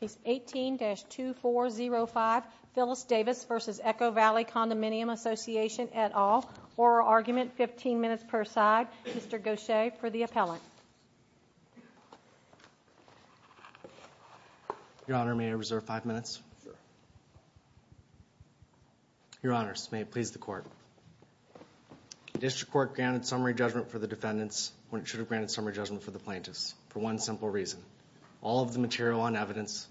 Case 18-2405, Phyllis Davis v. Echo Valley Condominium Association, et al. Oral argument, 15 minutes per side. Mr. Gaucher for the appellant. Your Honor, may I reserve five minutes? Sure. Your Honor, may it please the Court. The District Court granted summary judgment for the defendants when it should have granted summary judgment for the plaintiffs, for one simple reason. All of the material evidence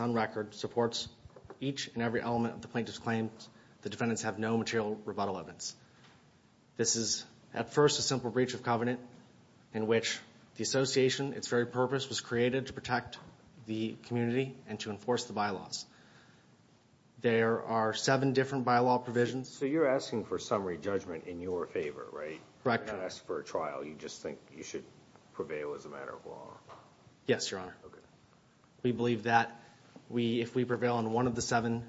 on record supports each and every element of the plaintiff's claim. The defendants have no material rebuttal evidence. This is, at first, a simple breach of covenant in which the Association, its very purpose, was created to protect the community and to enforce the bylaws. There are seven different bylaw provisions. So you're asking for summary judgment in your favor, right? Correct. You're not asking for a trial. You just think you should prevail as a matter of law. Yes, Your Honor. Okay. We believe that if we prevail on one of the seven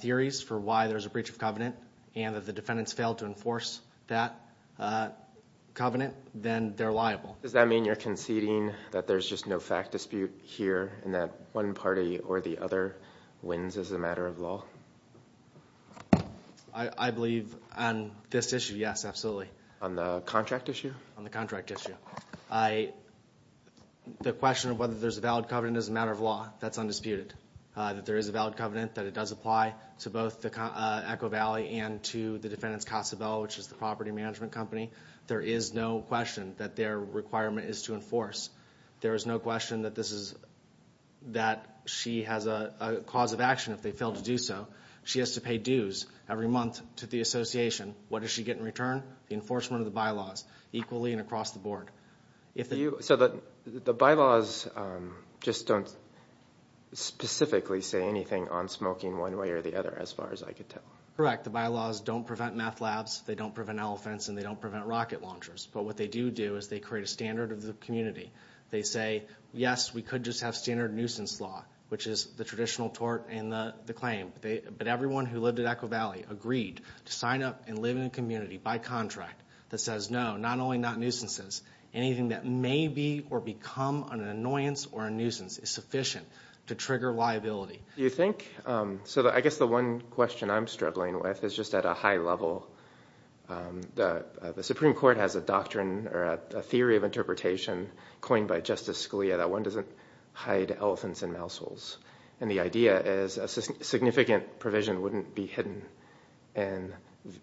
theories for why there's a breach of covenant, and if the defendants fail to enforce that covenant, then they're liable. Does that mean you're conceding that there's just no fact dispute here, and that one party or the other wins as a matter of law? I believe on this issue, yes, absolutely. On the contract issue? On the contract issue. The question of whether there's a valid covenant is a matter of law. That's undisputed. That there is a valid covenant, that it does apply to both Echo Valley and to the defendants' Casa Bella, which is the property management company. There is no question that their requirement is to enforce. There is no question that she has a cause of action if they fail to do so. She has to pay dues every month to the Association. What does she get in return? The enforcement of the bylaws, equally and across the board. So the bylaws just don't specifically say anything on smoking one way or the other, as far as I can tell? Correct. The bylaws don't prevent meth labs, they don't prevent elephants, and they don't prevent rocket launchers. But what they do do is they create a standard of the community. They say, yes, we could just have standard nuisance law, which is the traditional tort and the claim. But everyone who lived at Echo Valley agreed to sign up and live in a community by contract that says, no, not only not nuisances, anything that may be or become an annoyance or a nuisance is sufficient to trigger liability. Do you think, so I guess the one question I'm struggling with is just at a high level. The Supreme Court has a doctrine or a theory of interpretation coined by Justice Scalia that one doesn't hide elephants in mouse holes. And the idea is a significant provision wouldn't be hidden in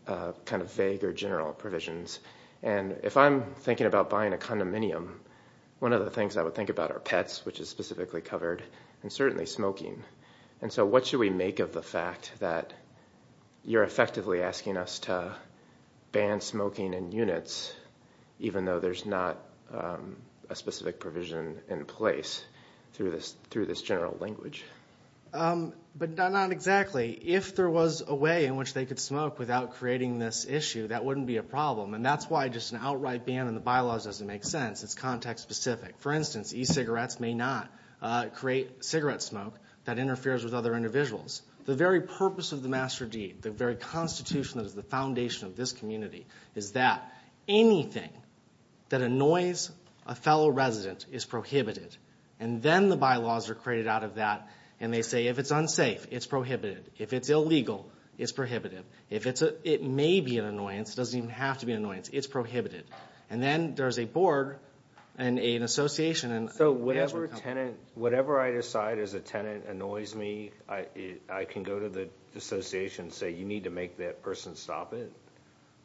kind of vague or general provisions. And if I'm thinking about buying a condominium, one of the things I would think about are pets, which is specifically covered, and certainly smoking. And so what should we make of the fact that you're effectively asking us to ban smoking in units, even though there's not a specific provision in place through this general language? But not exactly. If there was a way in which they could smoke without creating this issue, that wouldn't be a problem. And that's why just an outright ban on the bylaws doesn't make sense. It's context specific. For instance, e-cigarettes may not create cigarette smoke that interferes with other individuals. The very purpose of the master deed, the very constitution that is the foundation of this community, is that anything that annoys a fellow resident is prohibited. And then the bylaws are created out of that, and they say if it's unsafe, it's prohibited. If it's illegal, it's prohibited. If it may be an annoyance, it doesn't even have to be an annoyance, it's prohibited. And then there's a board and an association. So whatever I decide as a tenant annoys me, I can go to the association and say, you need to make that person stop it,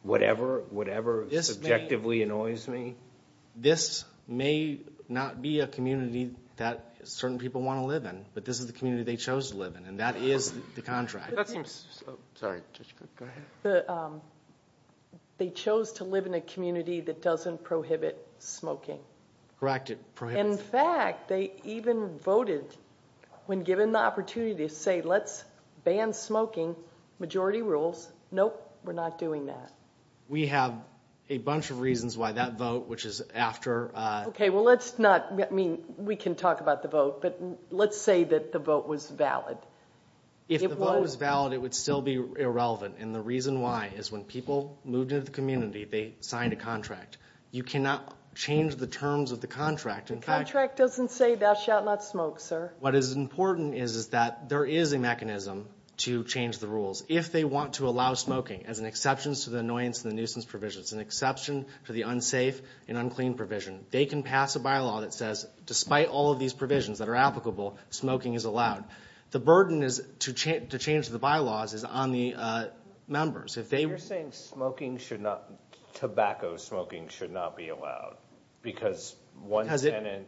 whatever subjectively annoys me? This may not be a community that certain people want to live in, but this is the community they chose to live in, and that is the contract. They chose to live in a community that doesn't prohibit smoking. Correct, it prohibits. In fact, they even voted when given the opportunity to say let's ban smoking, majority rules. Nope, we're not doing that. We have a bunch of reasons why that vote, which is after. Okay, well, let's not, I mean, we can talk about the vote, but let's say that the vote was valid. If the vote was valid, it would still be irrelevant, and the reason why is when people moved into the community, they signed a contract. You cannot change the terms of the contract. The contract doesn't say thou shalt not smoke, sir. What is important is that there is a mechanism to change the rules. If they want to allow smoking as an exception to the annoyance and the nuisance provisions, an exception to the unsafe and unclean provision, they can pass a bylaw that says despite all of these provisions that are applicable, smoking is allowed. The burden to change the bylaws is on the members. You're saying smoking should not, tobacco smoking should not be allowed because one tenant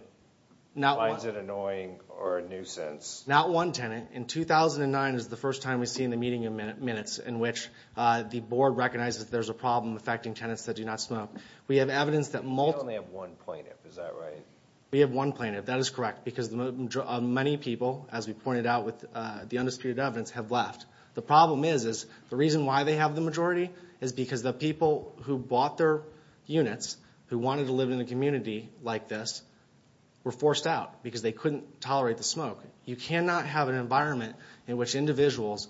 finds it annoying or a nuisance. Not one tenant. In 2009 is the first time we've seen the meeting of minutes in which the board recognizes there's a problem affecting tenants that do not smoke. We have evidence that multiple. We only have one plaintiff, is that right? We have one plaintiff. That is correct because many people, as we pointed out with the undisputed evidence, have left. The problem is the reason why they have the majority is because the people who bought their units, who wanted to live in a community like this, were forced out because they couldn't tolerate the smoke. You cannot have an environment in which individuals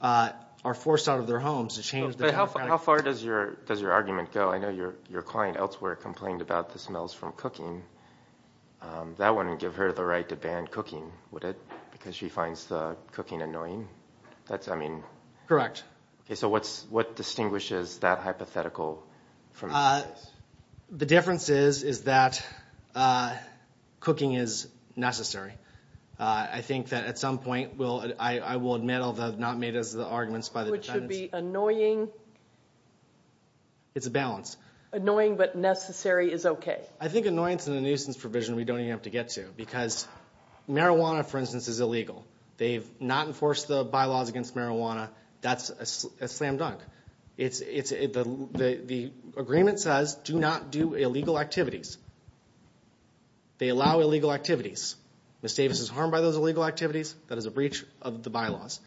are forced out of their homes. How far does your argument go? I know your client elsewhere complained about the smells from cooking. That wouldn't give her the right to ban cooking, would it? Because she finds the cooking annoying? Correct. What distinguishes that hypothetical from this? The difference is that cooking is necessary. I think that at some point I will admit, although not made as the arguments by the defendants. Which would be annoying. It's a balance. Annoying but necessary is okay. I think annoyance and a nuisance provision we don't even have to get to because marijuana, for instance, is illegal. They've not enforced the bylaws against marijuana. That's a slam dunk. The agreement says do not do illegal activities. They allow illegal activities. Ms. Davis is harmed by those illegal activities. That is a breach of the bylaws.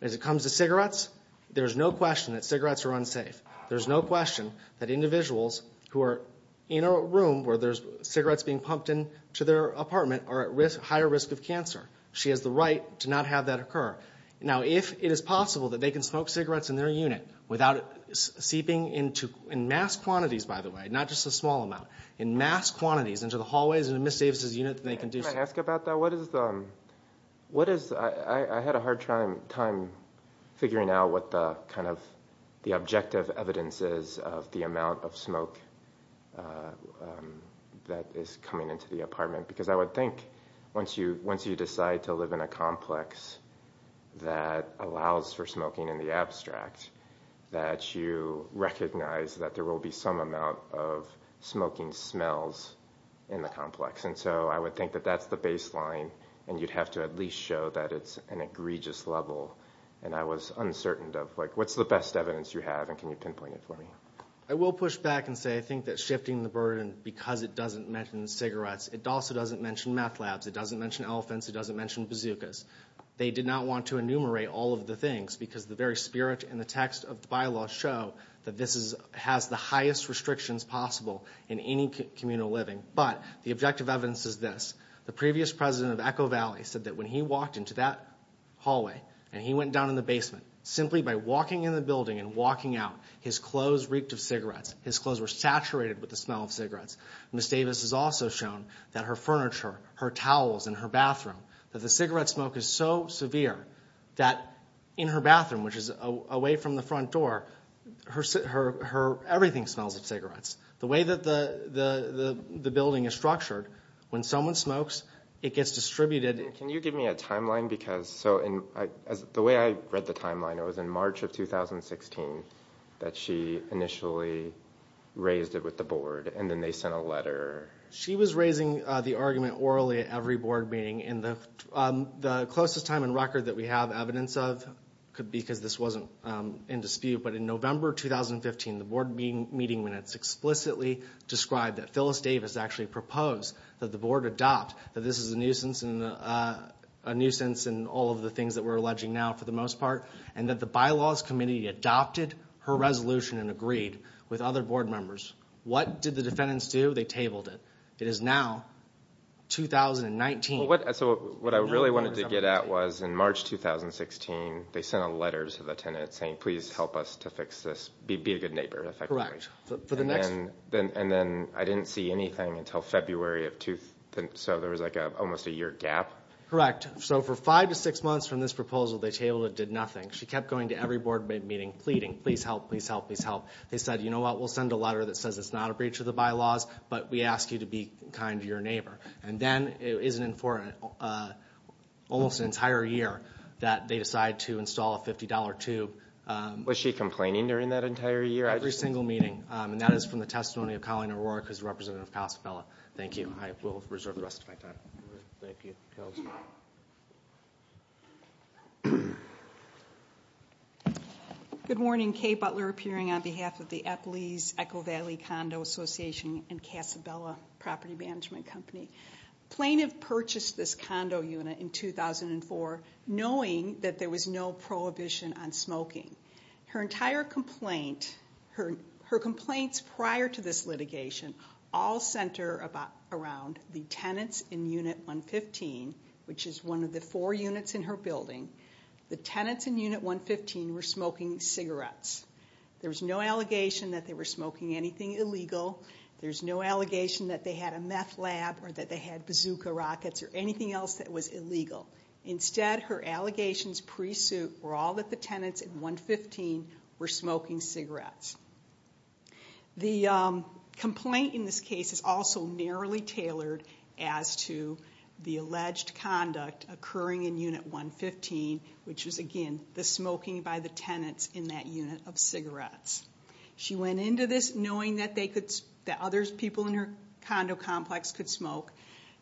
As it comes to cigarettes, there's no question that cigarettes are unsafe. There's no question that individuals who are in a room where there's cigarettes being pumped into their apartment are at higher risk of cancer. She has the right to not have that occur. Now, if it is possible that they can smoke cigarettes in their unit without seeping into, in mass quantities, by the way, not just a small amount, in mass quantities into the hallways of Ms. Davis' unit, then they can do so. Can I ask about that? I had a hard time figuring out what the objective evidence is of the amount of smoke that is coming into the apartment because I would think once you decide to live in a complex that allows for smoking in the abstract, that you recognize that there will be some amount of smoking smells in the complex. And so I would think that that's the baseline, and you'd have to at least show that it's an egregious level. And I was uncertain of, like, what's the best evidence you have, and can you pinpoint it for me? I will push back and say I think that shifting the burden because it doesn't mention cigarettes, it also doesn't mention meth labs, it doesn't mention elephants, it doesn't mention bazookas. They did not want to enumerate all of the things because the very spirit and the text of the bylaw show that this has the highest restrictions possible in any communal living. But the objective evidence is this. The previous president of Echo Valley said that when he walked into that hallway and he went down in the basement, simply by walking in the building and walking out, his clothes reeked of cigarettes. His clothes were saturated with the smell of cigarettes. Ms. Davis has also shown that her furniture, her towels, and her bathroom, that the cigarette smoke is so severe that in her bathroom, which is away from the front door, everything smells of cigarettes. The way that the building is structured, when someone smokes, it gets distributed. Can you give me a timeline? Because the way I read the timeline, it was in March of 2016 that she initially raised it with the board, and then they sent a letter. She was raising the argument orally at every board meeting, and the closest time on record that we have evidence of could be because this wasn't in dispute, but in November 2015, the board meeting minutes explicitly described that Phyllis Davis actually proposed that the board adopt that this is a nuisance in all of the things that we're alleging now for the most part, and that the bylaws committee adopted her resolution and agreed with other board members. What did the defendants do? They tabled it. It is now 2019. So what I really wanted to get at was in March 2016, they sent a letter to the tenant saying, please help us to fix this, be a good neighbor effectively. Correct. And then I didn't see anything until February, so there was like almost a year gap. Correct. So for five to six months from this proposal, they tabled it, did nothing. She kept going to every board meeting pleading, please help, please help, please help. They said, you know what, we'll send a letter that says it's not a breach of the bylaws, but we ask you to be kind to your neighbor. And then it isn't for almost an entire year that they decide to install a $50 tube. Was she complaining during that entire year? Every single meeting. And that is from the testimony of Colleen O'Rourke, who is the representative of Casa Bella. Thank you. I will reserve the rest of my time. Thank you. Counselor. Good morning. Kay Butler appearing on behalf of the Eppley's Echo Valley Condo Association and Casa Bella Property Management Company. Plaintiff purchased this condo unit in 2004 knowing that there was no prohibition on smoking. Her entire complaint, her complaints prior to this litigation, all center around the tenants in unit 115, which is one of the four units in her building. The tenants in unit 115 were smoking cigarettes. There was no allegation that they were smoking anything illegal. There was no allegation that they had a meth lab or that they had bazooka rockets or anything else that was illegal. Instead, her allegations pre-suit were all that the tenants in 115 were smoking cigarettes. The complaint in this case is also narrowly tailored as to the alleged conduct occurring in unit 115, which was, again, the smoking by the tenants in that unit of cigarettes. She went into this knowing that other people in her condo complex could smoke.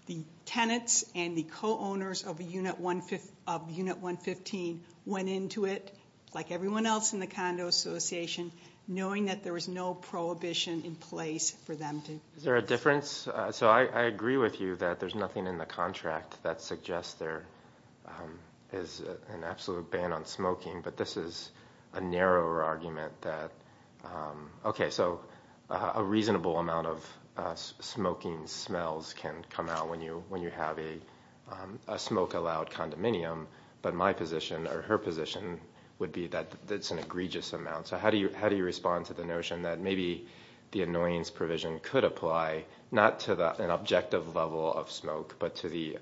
The tenants and the co-owners of unit 115 went into it, like everyone else in the condo association, knowing that there was no prohibition in place for them to do this. Is there a difference? So I agree with you that there's nothing in the contract that suggests there is an absolute ban on smoking, but this is a narrower argument that, okay, so a reasonable amount of smoking smells can come out when you have a smoke-allowed condominium, but my position or her position would be that it's an egregious amount. So how do you respond to the notion that maybe the annoyance provision could apply not to an objective level of smoke, but to the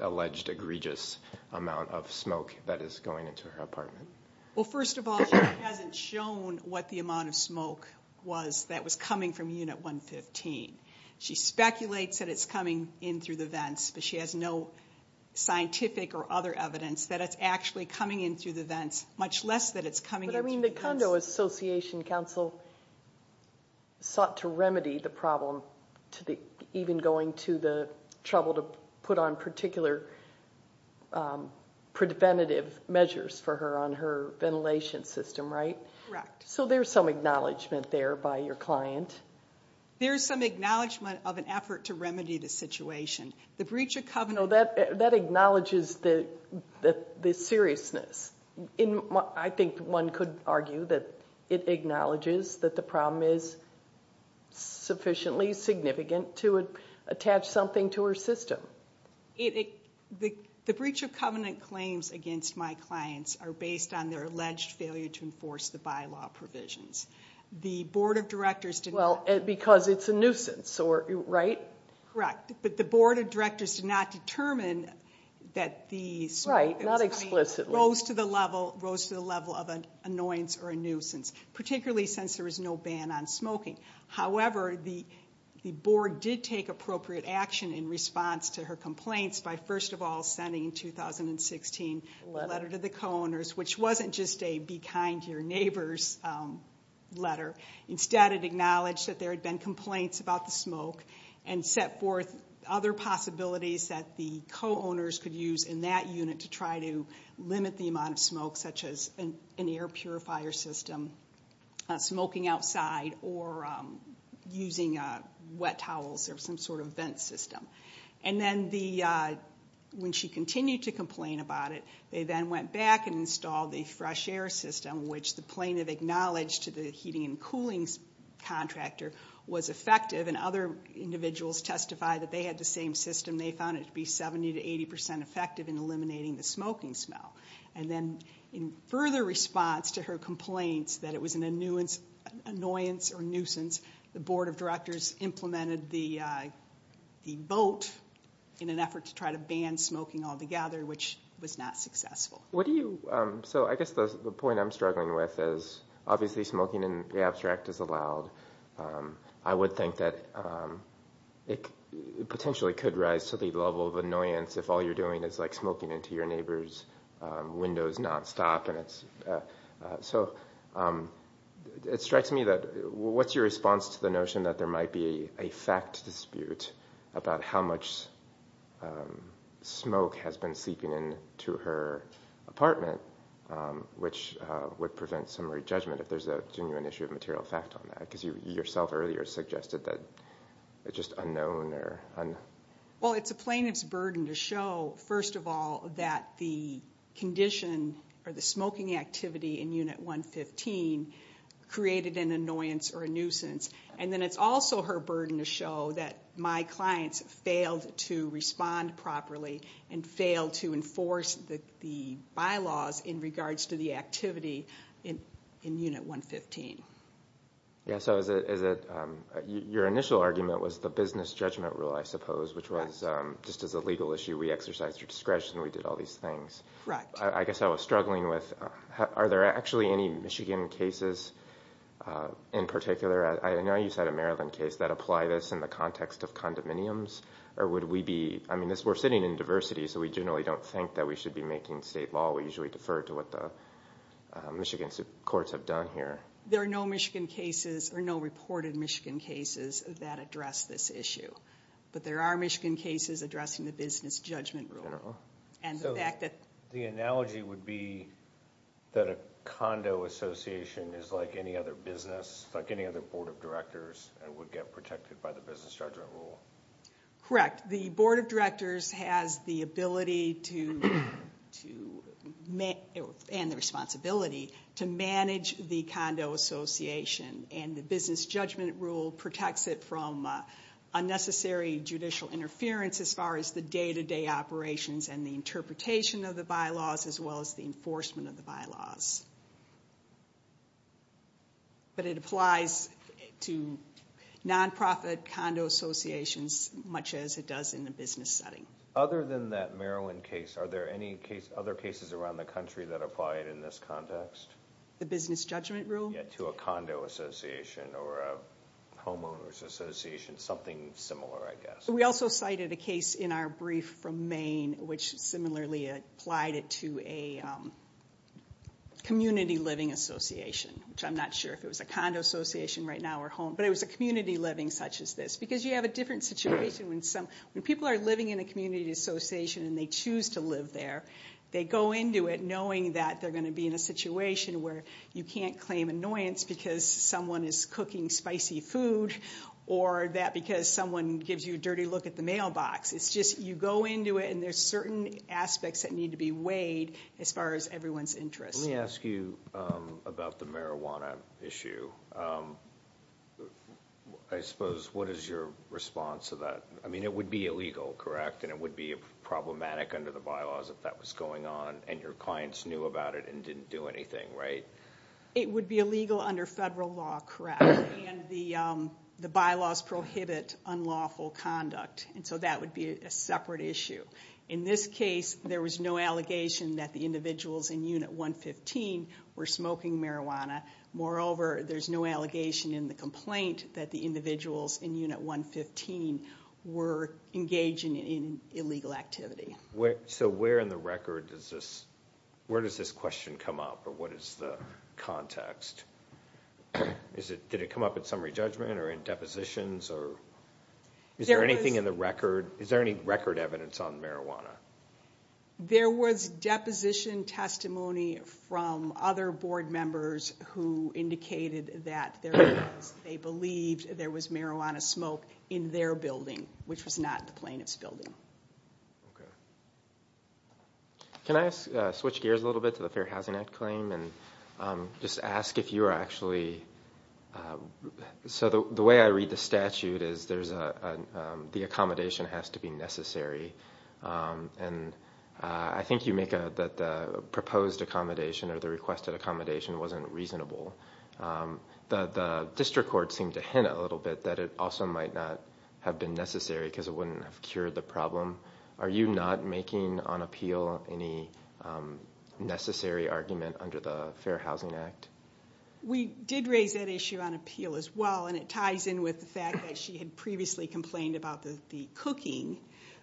alleged egregious amount of smoke that is going into her apartment? Well, first of all, she hasn't shown what the amount of smoke was that was coming from unit 115. She speculates that it's coming in through the vents, but she has no scientific or other evidence that it's actually coming in through the vents, much less that it's coming in through the vents. But, I mean, the condo association counsel sought to remedy the problem, even going to the trouble to put on particular preventative measures for her on her ventilation system, right? Correct. So there's some acknowledgment there by your client. There's some acknowledgment of an effort to remedy the situation. No, that acknowledges the seriousness. I think one could argue that it acknowledges that the problem is sufficiently significant to attach something to her system. The breach of covenant claims against my clients are based on their alleged failure to enforce the bylaw provisions. The board of directors did not. Well, because it's a nuisance, right? Correct. But the board of directors did not determine that the smoke. Right, not explicitly. Rose to the level of an annoyance or a nuisance, particularly since there was no ban on smoking. However, the board did take appropriate action in response to her complaints by, first of all, sending in 2016 a letter to the co-owners, which wasn't just a be kind to your neighbors letter. Instead, it acknowledged that there had been complaints about the smoke and set forth other possibilities that the co-owners could use in that unit to try to limit the amount of smoke, such as an air purifier system, smoking outside, or using wet towels or some sort of vent system. And then when she continued to complain about it, they then went back and installed the fresh air system, which the plaintiff acknowledged to the heating and cooling contractor was effective, and other individuals testified that they had the same system. They found it to be 70% to 80% effective in eliminating the smoking smell. And then in further response to her complaints that it was an annoyance or nuisance, the board of directors implemented the vote in an effort to try to ban smoking altogether, which was not successful. So I guess the point I'm struggling with is, obviously, smoking in the abstract is allowed. I would think that it potentially could rise to the level of annoyance if all you're doing is, like, smoking into your neighbor's windows nonstop. So it strikes me that what's your response to the notion that there might be a fact dispute about how much smoke has been seeping into her apartment, which would prevent summary judgment if there's a genuine issue of material effect on that, because you yourself earlier suggested that it's just unknown or un- Well, it's a plaintiff's burden to show, first of all, that the condition or the smoking activity in Unit 115 created an annoyance or a nuisance. And then it's also her burden to show that my clients failed to respond properly and failed to enforce the bylaws in regards to the activity in Unit 115. Yeah, so your initial argument was the business judgment rule, I suppose, which was just as a legal issue, we exercised our discretion, we did all these things. Correct. I guess I was struggling with, are there actually any Michigan cases in particular? I know you said a Maryland case. That apply this in the context of condominiums? Or would we be, I mean, we're sitting in diversity, so we generally don't think that we should be making state law. We usually defer to what the Michigan courts have done here. There are no Michigan cases or no reported Michigan cases that address this issue. But there are Michigan cases addressing the business judgment rule. So the analogy would be that a condo association is like any other business, like any other board of directors, and would get protected by the business judgment rule. Correct. The board of directors has the ability to, and the responsibility, to manage the condo association. And the business judgment rule protects it from unnecessary judicial interference as far as the day-to-day operations and the interpretation of the bylaws as well as the enforcement of the bylaws. But it applies to nonprofit condo associations much as it does in the business setting. Other than that Maryland case, are there any other cases around the country that apply it in this context? The business judgment rule? Yeah, to a condo association or a homeowners association, something similar, I guess. We also cited a case in our brief from Maine, which similarly applied it to a community living association, which I'm not sure if it was a condo association right now or home, but it was a community living such as this. Because you have a different situation when people are living in a community association and they choose to live there. They go into it knowing that they're going to be in a situation where you can't claim annoyance because someone is cooking spicy food or that because someone gives you a dirty look at the mailbox. It's just you go into it and there's certain aspects that need to be weighed as far as everyone's interest. Let me ask you about the marijuana issue. I suppose what is your response to that? I mean it would be illegal, correct? And it would be problematic under the bylaws if that was going on and your clients knew about it and didn't do anything, right? It would be illegal under federal law, correct. And the bylaws prohibit unlawful conduct. And so that would be a separate issue. In this case, there was no allegation that the individuals in Unit 115 were smoking marijuana. Moreover, there's no allegation in the complaint that the individuals in Unit 115 were engaging in illegal activity. So where in the record does this question come up or what is the context? Did it come up in summary judgment or in depositions? Is there anything in the record? Is there any record evidence on marijuana? There was deposition testimony from other board members who indicated that they believed there was marijuana smoke in their building, which was not the plaintiff's building. Can I switch gears a little bit to the Fair Housing Act claim and just ask if you are actually – so the way I read the statute is there's a – the accommodation has to be necessary. And I think you make that the proposed accommodation or the requested accommodation wasn't reasonable. The district court seemed to hint a little bit that it also might not have been necessary because it wouldn't have cured the problem. Are you not making on appeal any necessary argument under the Fair Housing Act? We did raise that issue on appeal as well, and it ties in with the fact that she had previously complained about the cooking,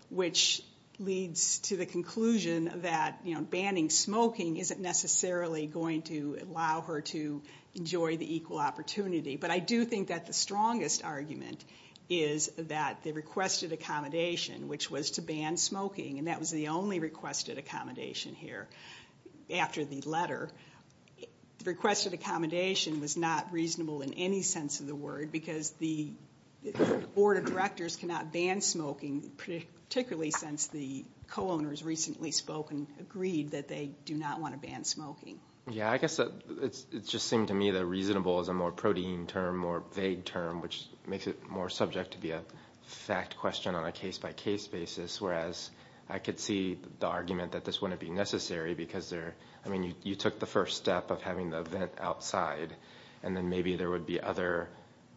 which leads to the conclusion that banning smoking isn't necessarily going to allow her to enjoy the equal opportunity. But I do think that the strongest argument is that the requested accommodation, which was to ban smoking, and that was the only requested accommodation here after the letter. The requested accommodation was not reasonable in any sense of the word because the board of directors cannot ban smoking, particularly since the co-owners recently spoke and agreed that they do not want to ban smoking. Yeah, I guess it just seemed to me that reasonable is a more protein term, which makes it more subject to be a fact question on a case-by-case basis, whereas I could see the argument that this wouldn't be necessary because you took the first step of having the event outside, and then maybe there would be other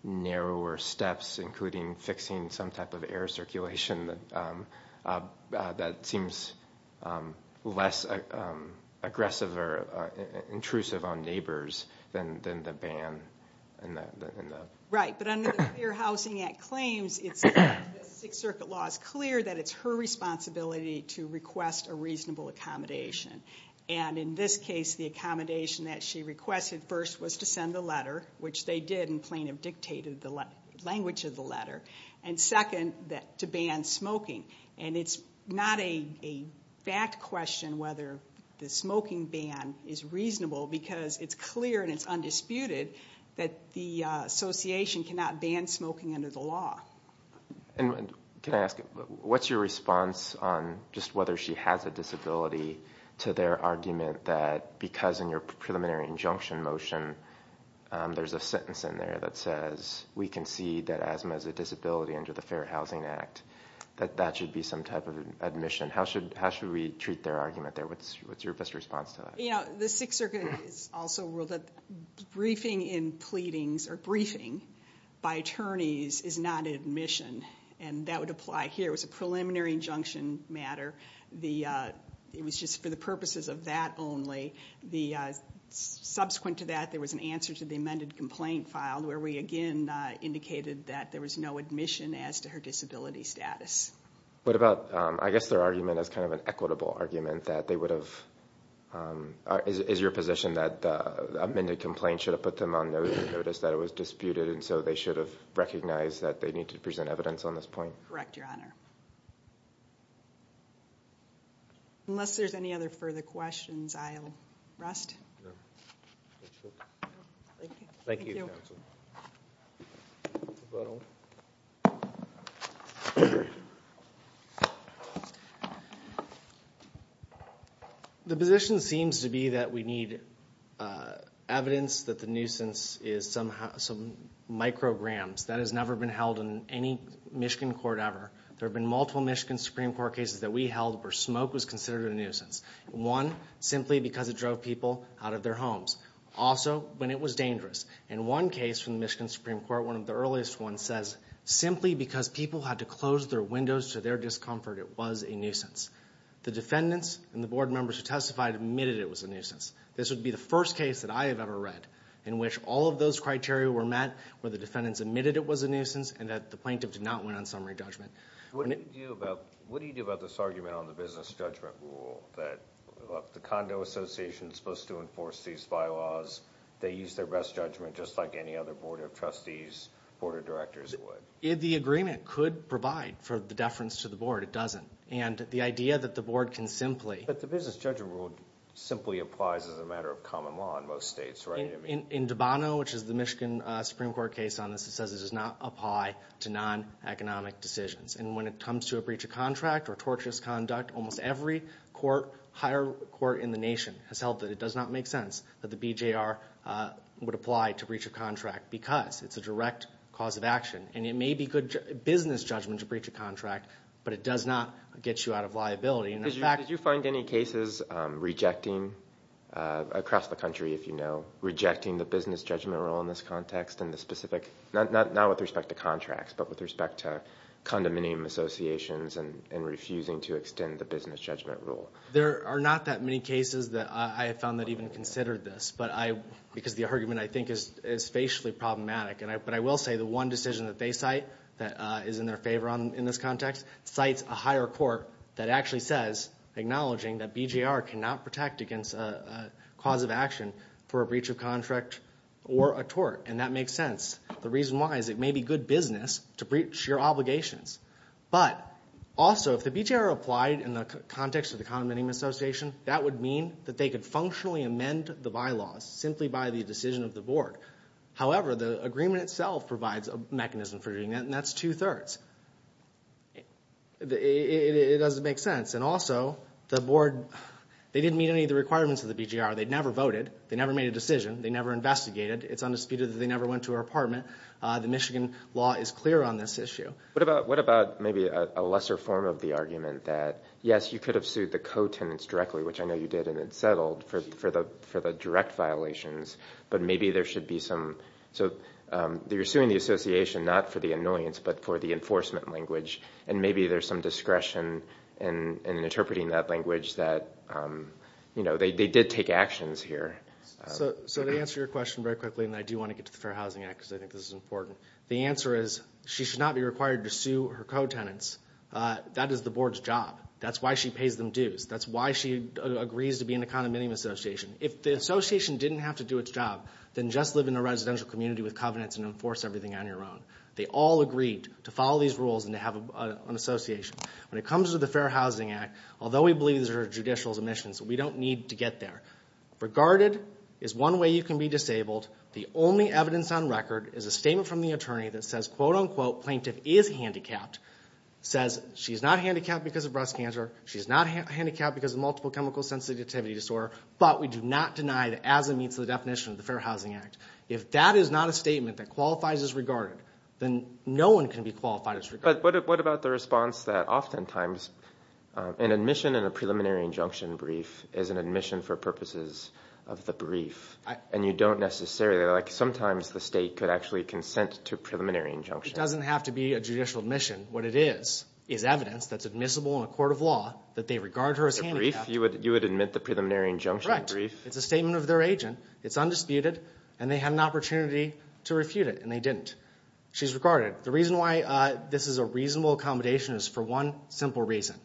narrower steps, including fixing some type of air circulation that seems less aggressive or intrusive on neighbors than the ban. Right, but under the Fair Housing Act claims, the Sixth Circuit law is clear that it's her responsibility to request a reasonable accommodation. And in this case, the accommodation that she requested first was to send the letter, which they did, and plaintiff dictated the language of the letter, and second, to ban smoking. And it's not a fact question whether the smoking ban is reasonable because it's clear and it's undisputed that the association cannot ban smoking under the law. And can I ask, what's your response on just whether she has a disability to their argument that because in your preliminary injunction motion there's a sentence in there that says, we concede that Asma has a disability under the Fair Housing Act, that that should be some type of admission? How should we treat their argument there? What's your best response to that? You know, the Sixth Circuit has also ruled that briefing in pleadings or briefing by attorneys is not admission, and that would apply here. It was a preliminary injunction matter. It was just for the purposes of that only. Subsequent to that, there was an answer to the amended complaint filed where we again indicated that there was no admission as to her disability status. What about, I guess their argument is kind of an equitable argument that they would have, is your position that the amended complaint should have put them on notice that it was disputed and so they should have recognized that they need to present evidence on this point? Correct, Your Honor. Unless there's any other further questions, I'll rest. Thank you. Thank you, Counsel. The position seems to be that we need evidence that the nuisance is some micrograms. That has never been held in any Michigan court ever. There have been multiple Michigan Supreme Court cases that we held where smoke was considered a nuisance. One, simply because it drove people out of their homes. Also, when it was dangerous. In one case from the Michigan Supreme Court, one of the earliest ones, says simply because people had to close their windows to their discomfort, it was a nuisance. The defendants and the board members who testified admitted it was a nuisance. This would be the first case that I have ever read in which all of those criteria were met where the defendants admitted it was a nuisance and that the plaintiff did not win on summary judgment. What do you do about this argument on the business judgment rule that the condo association is supposed to enforce these bylaws, they use their best judgment just like any other board of trustees, board of directors would? The agreement could provide for the deference to the board. It doesn't. And the idea that the board can simply But the business judgment rule simply applies as a matter of common law in most states, right? In Dubano, which is the Michigan Supreme Court case on this, it says it does not apply to non-economic decisions. And when it comes to a breach of contract or torturous conduct, almost every higher court in the nation has held that it does not make sense that the BJR would apply to breach of contract because it's a direct cause of action. And it may be good business judgment to breach a contract, but it does not get you out of liability. Did you find any cases rejecting across the country, if you know, rejecting the business judgment rule in this context in the specific, not with respect to contracts, but with respect to condominium associations and refusing to extend the business judgment rule? There are not that many cases that I have found that even considered this because the argument, I think, is facially problematic. But I will say the one decision that they cite that is in their favor in this context cites a higher court that actually says, acknowledging that BJR cannot protect against a cause of action for a breach of contract or a tort, and that makes sense. The reason why is it may be good business to breach your obligations. But also, if the BJR applied in the context of the condominium association, that would mean that they could functionally amend the bylaws simply by the decision of the board. However, the agreement itself provides a mechanism for doing that, and that's two-thirds. It doesn't make sense. And also, the board, they didn't meet any of the requirements of the BJR. They never voted. They never made a decision. They never investigated. It's undisputed that they never went to her apartment. The Michigan law is clear on this issue. What about maybe a lesser form of the argument that, yes, you could have sued the co-tenants directly, which I know you did, and it settled for the direct violations, but maybe there should be some. So you're suing the association not for the annoyance but for the enforcement language, and maybe there's some discretion in interpreting that language that, you know, they did take actions here. So to answer your question very quickly, and I do want to get to the Fair Housing Act because I think this is important, the answer is she should not be required to sue her co-tenants. That is the board's job. That's why she pays them dues. That's why she agrees to be in the condominium association. If the association didn't have to do its job, then just live in a residential community with covenants and enforce everything on your own. They all agreed to follow these rules and to have an association. When it comes to the Fair Housing Act, although we believe these are judicial submissions, we don't need to get there. Regarded is one way you can be disabled. The only evidence on record is a statement from the attorney that says, quote-unquote, plaintiff is handicapped, says she's not handicapped because of breast cancer, she's not handicapped because of multiple chemical sensitivity disorder, but we do not deny that as it meets the definition of the Fair Housing Act. If that is not a statement that qualifies as regarded, then no one can be qualified as regarded. But what about the response that oftentimes an admission in a preliminary injunction brief is an admission for purposes of the brief and you don't necessarily, like sometimes the state could actually consent to preliminary injunction. It doesn't have to be a judicial admission. What it is is evidence that's admissible in a court of law that they regard her as handicapped. You would admit the preliminary injunction brief? Correct. It's a statement of their agent, it's undisputed, and they had an opportunity to refute it and they didn't. She's regarded. The reason why this is a reasonable accommodation is for one simple reason.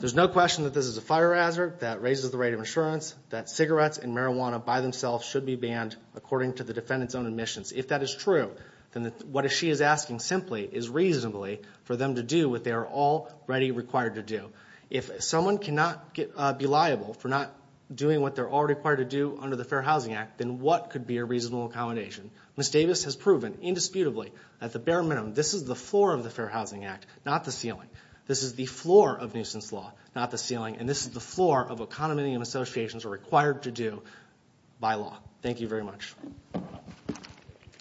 There's no question that this is a fire hazard that raises the rate of insurance, that cigarettes and marijuana by themselves should be banned according to the defendant's own admissions. If that is true, then what she is asking simply is reasonably for them to do what they are already required to do. If someone cannot be liable for not doing what they're already required to do under the Fair Housing Act, then what could be a reasonable accommodation? Ms. Davis has proven indisputably, at the bare minimum, this is the floor of the Fair Housing Act, not the ceiling. This is the floor of nuisance law, not the ceiling, and this is the floor of what condominium associations are required to do by law. Thank you very much.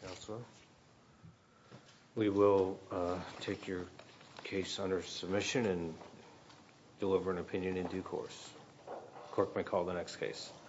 Counselor? We will take your case under submission and deliver an opinion in due course. Clerk may call the next case.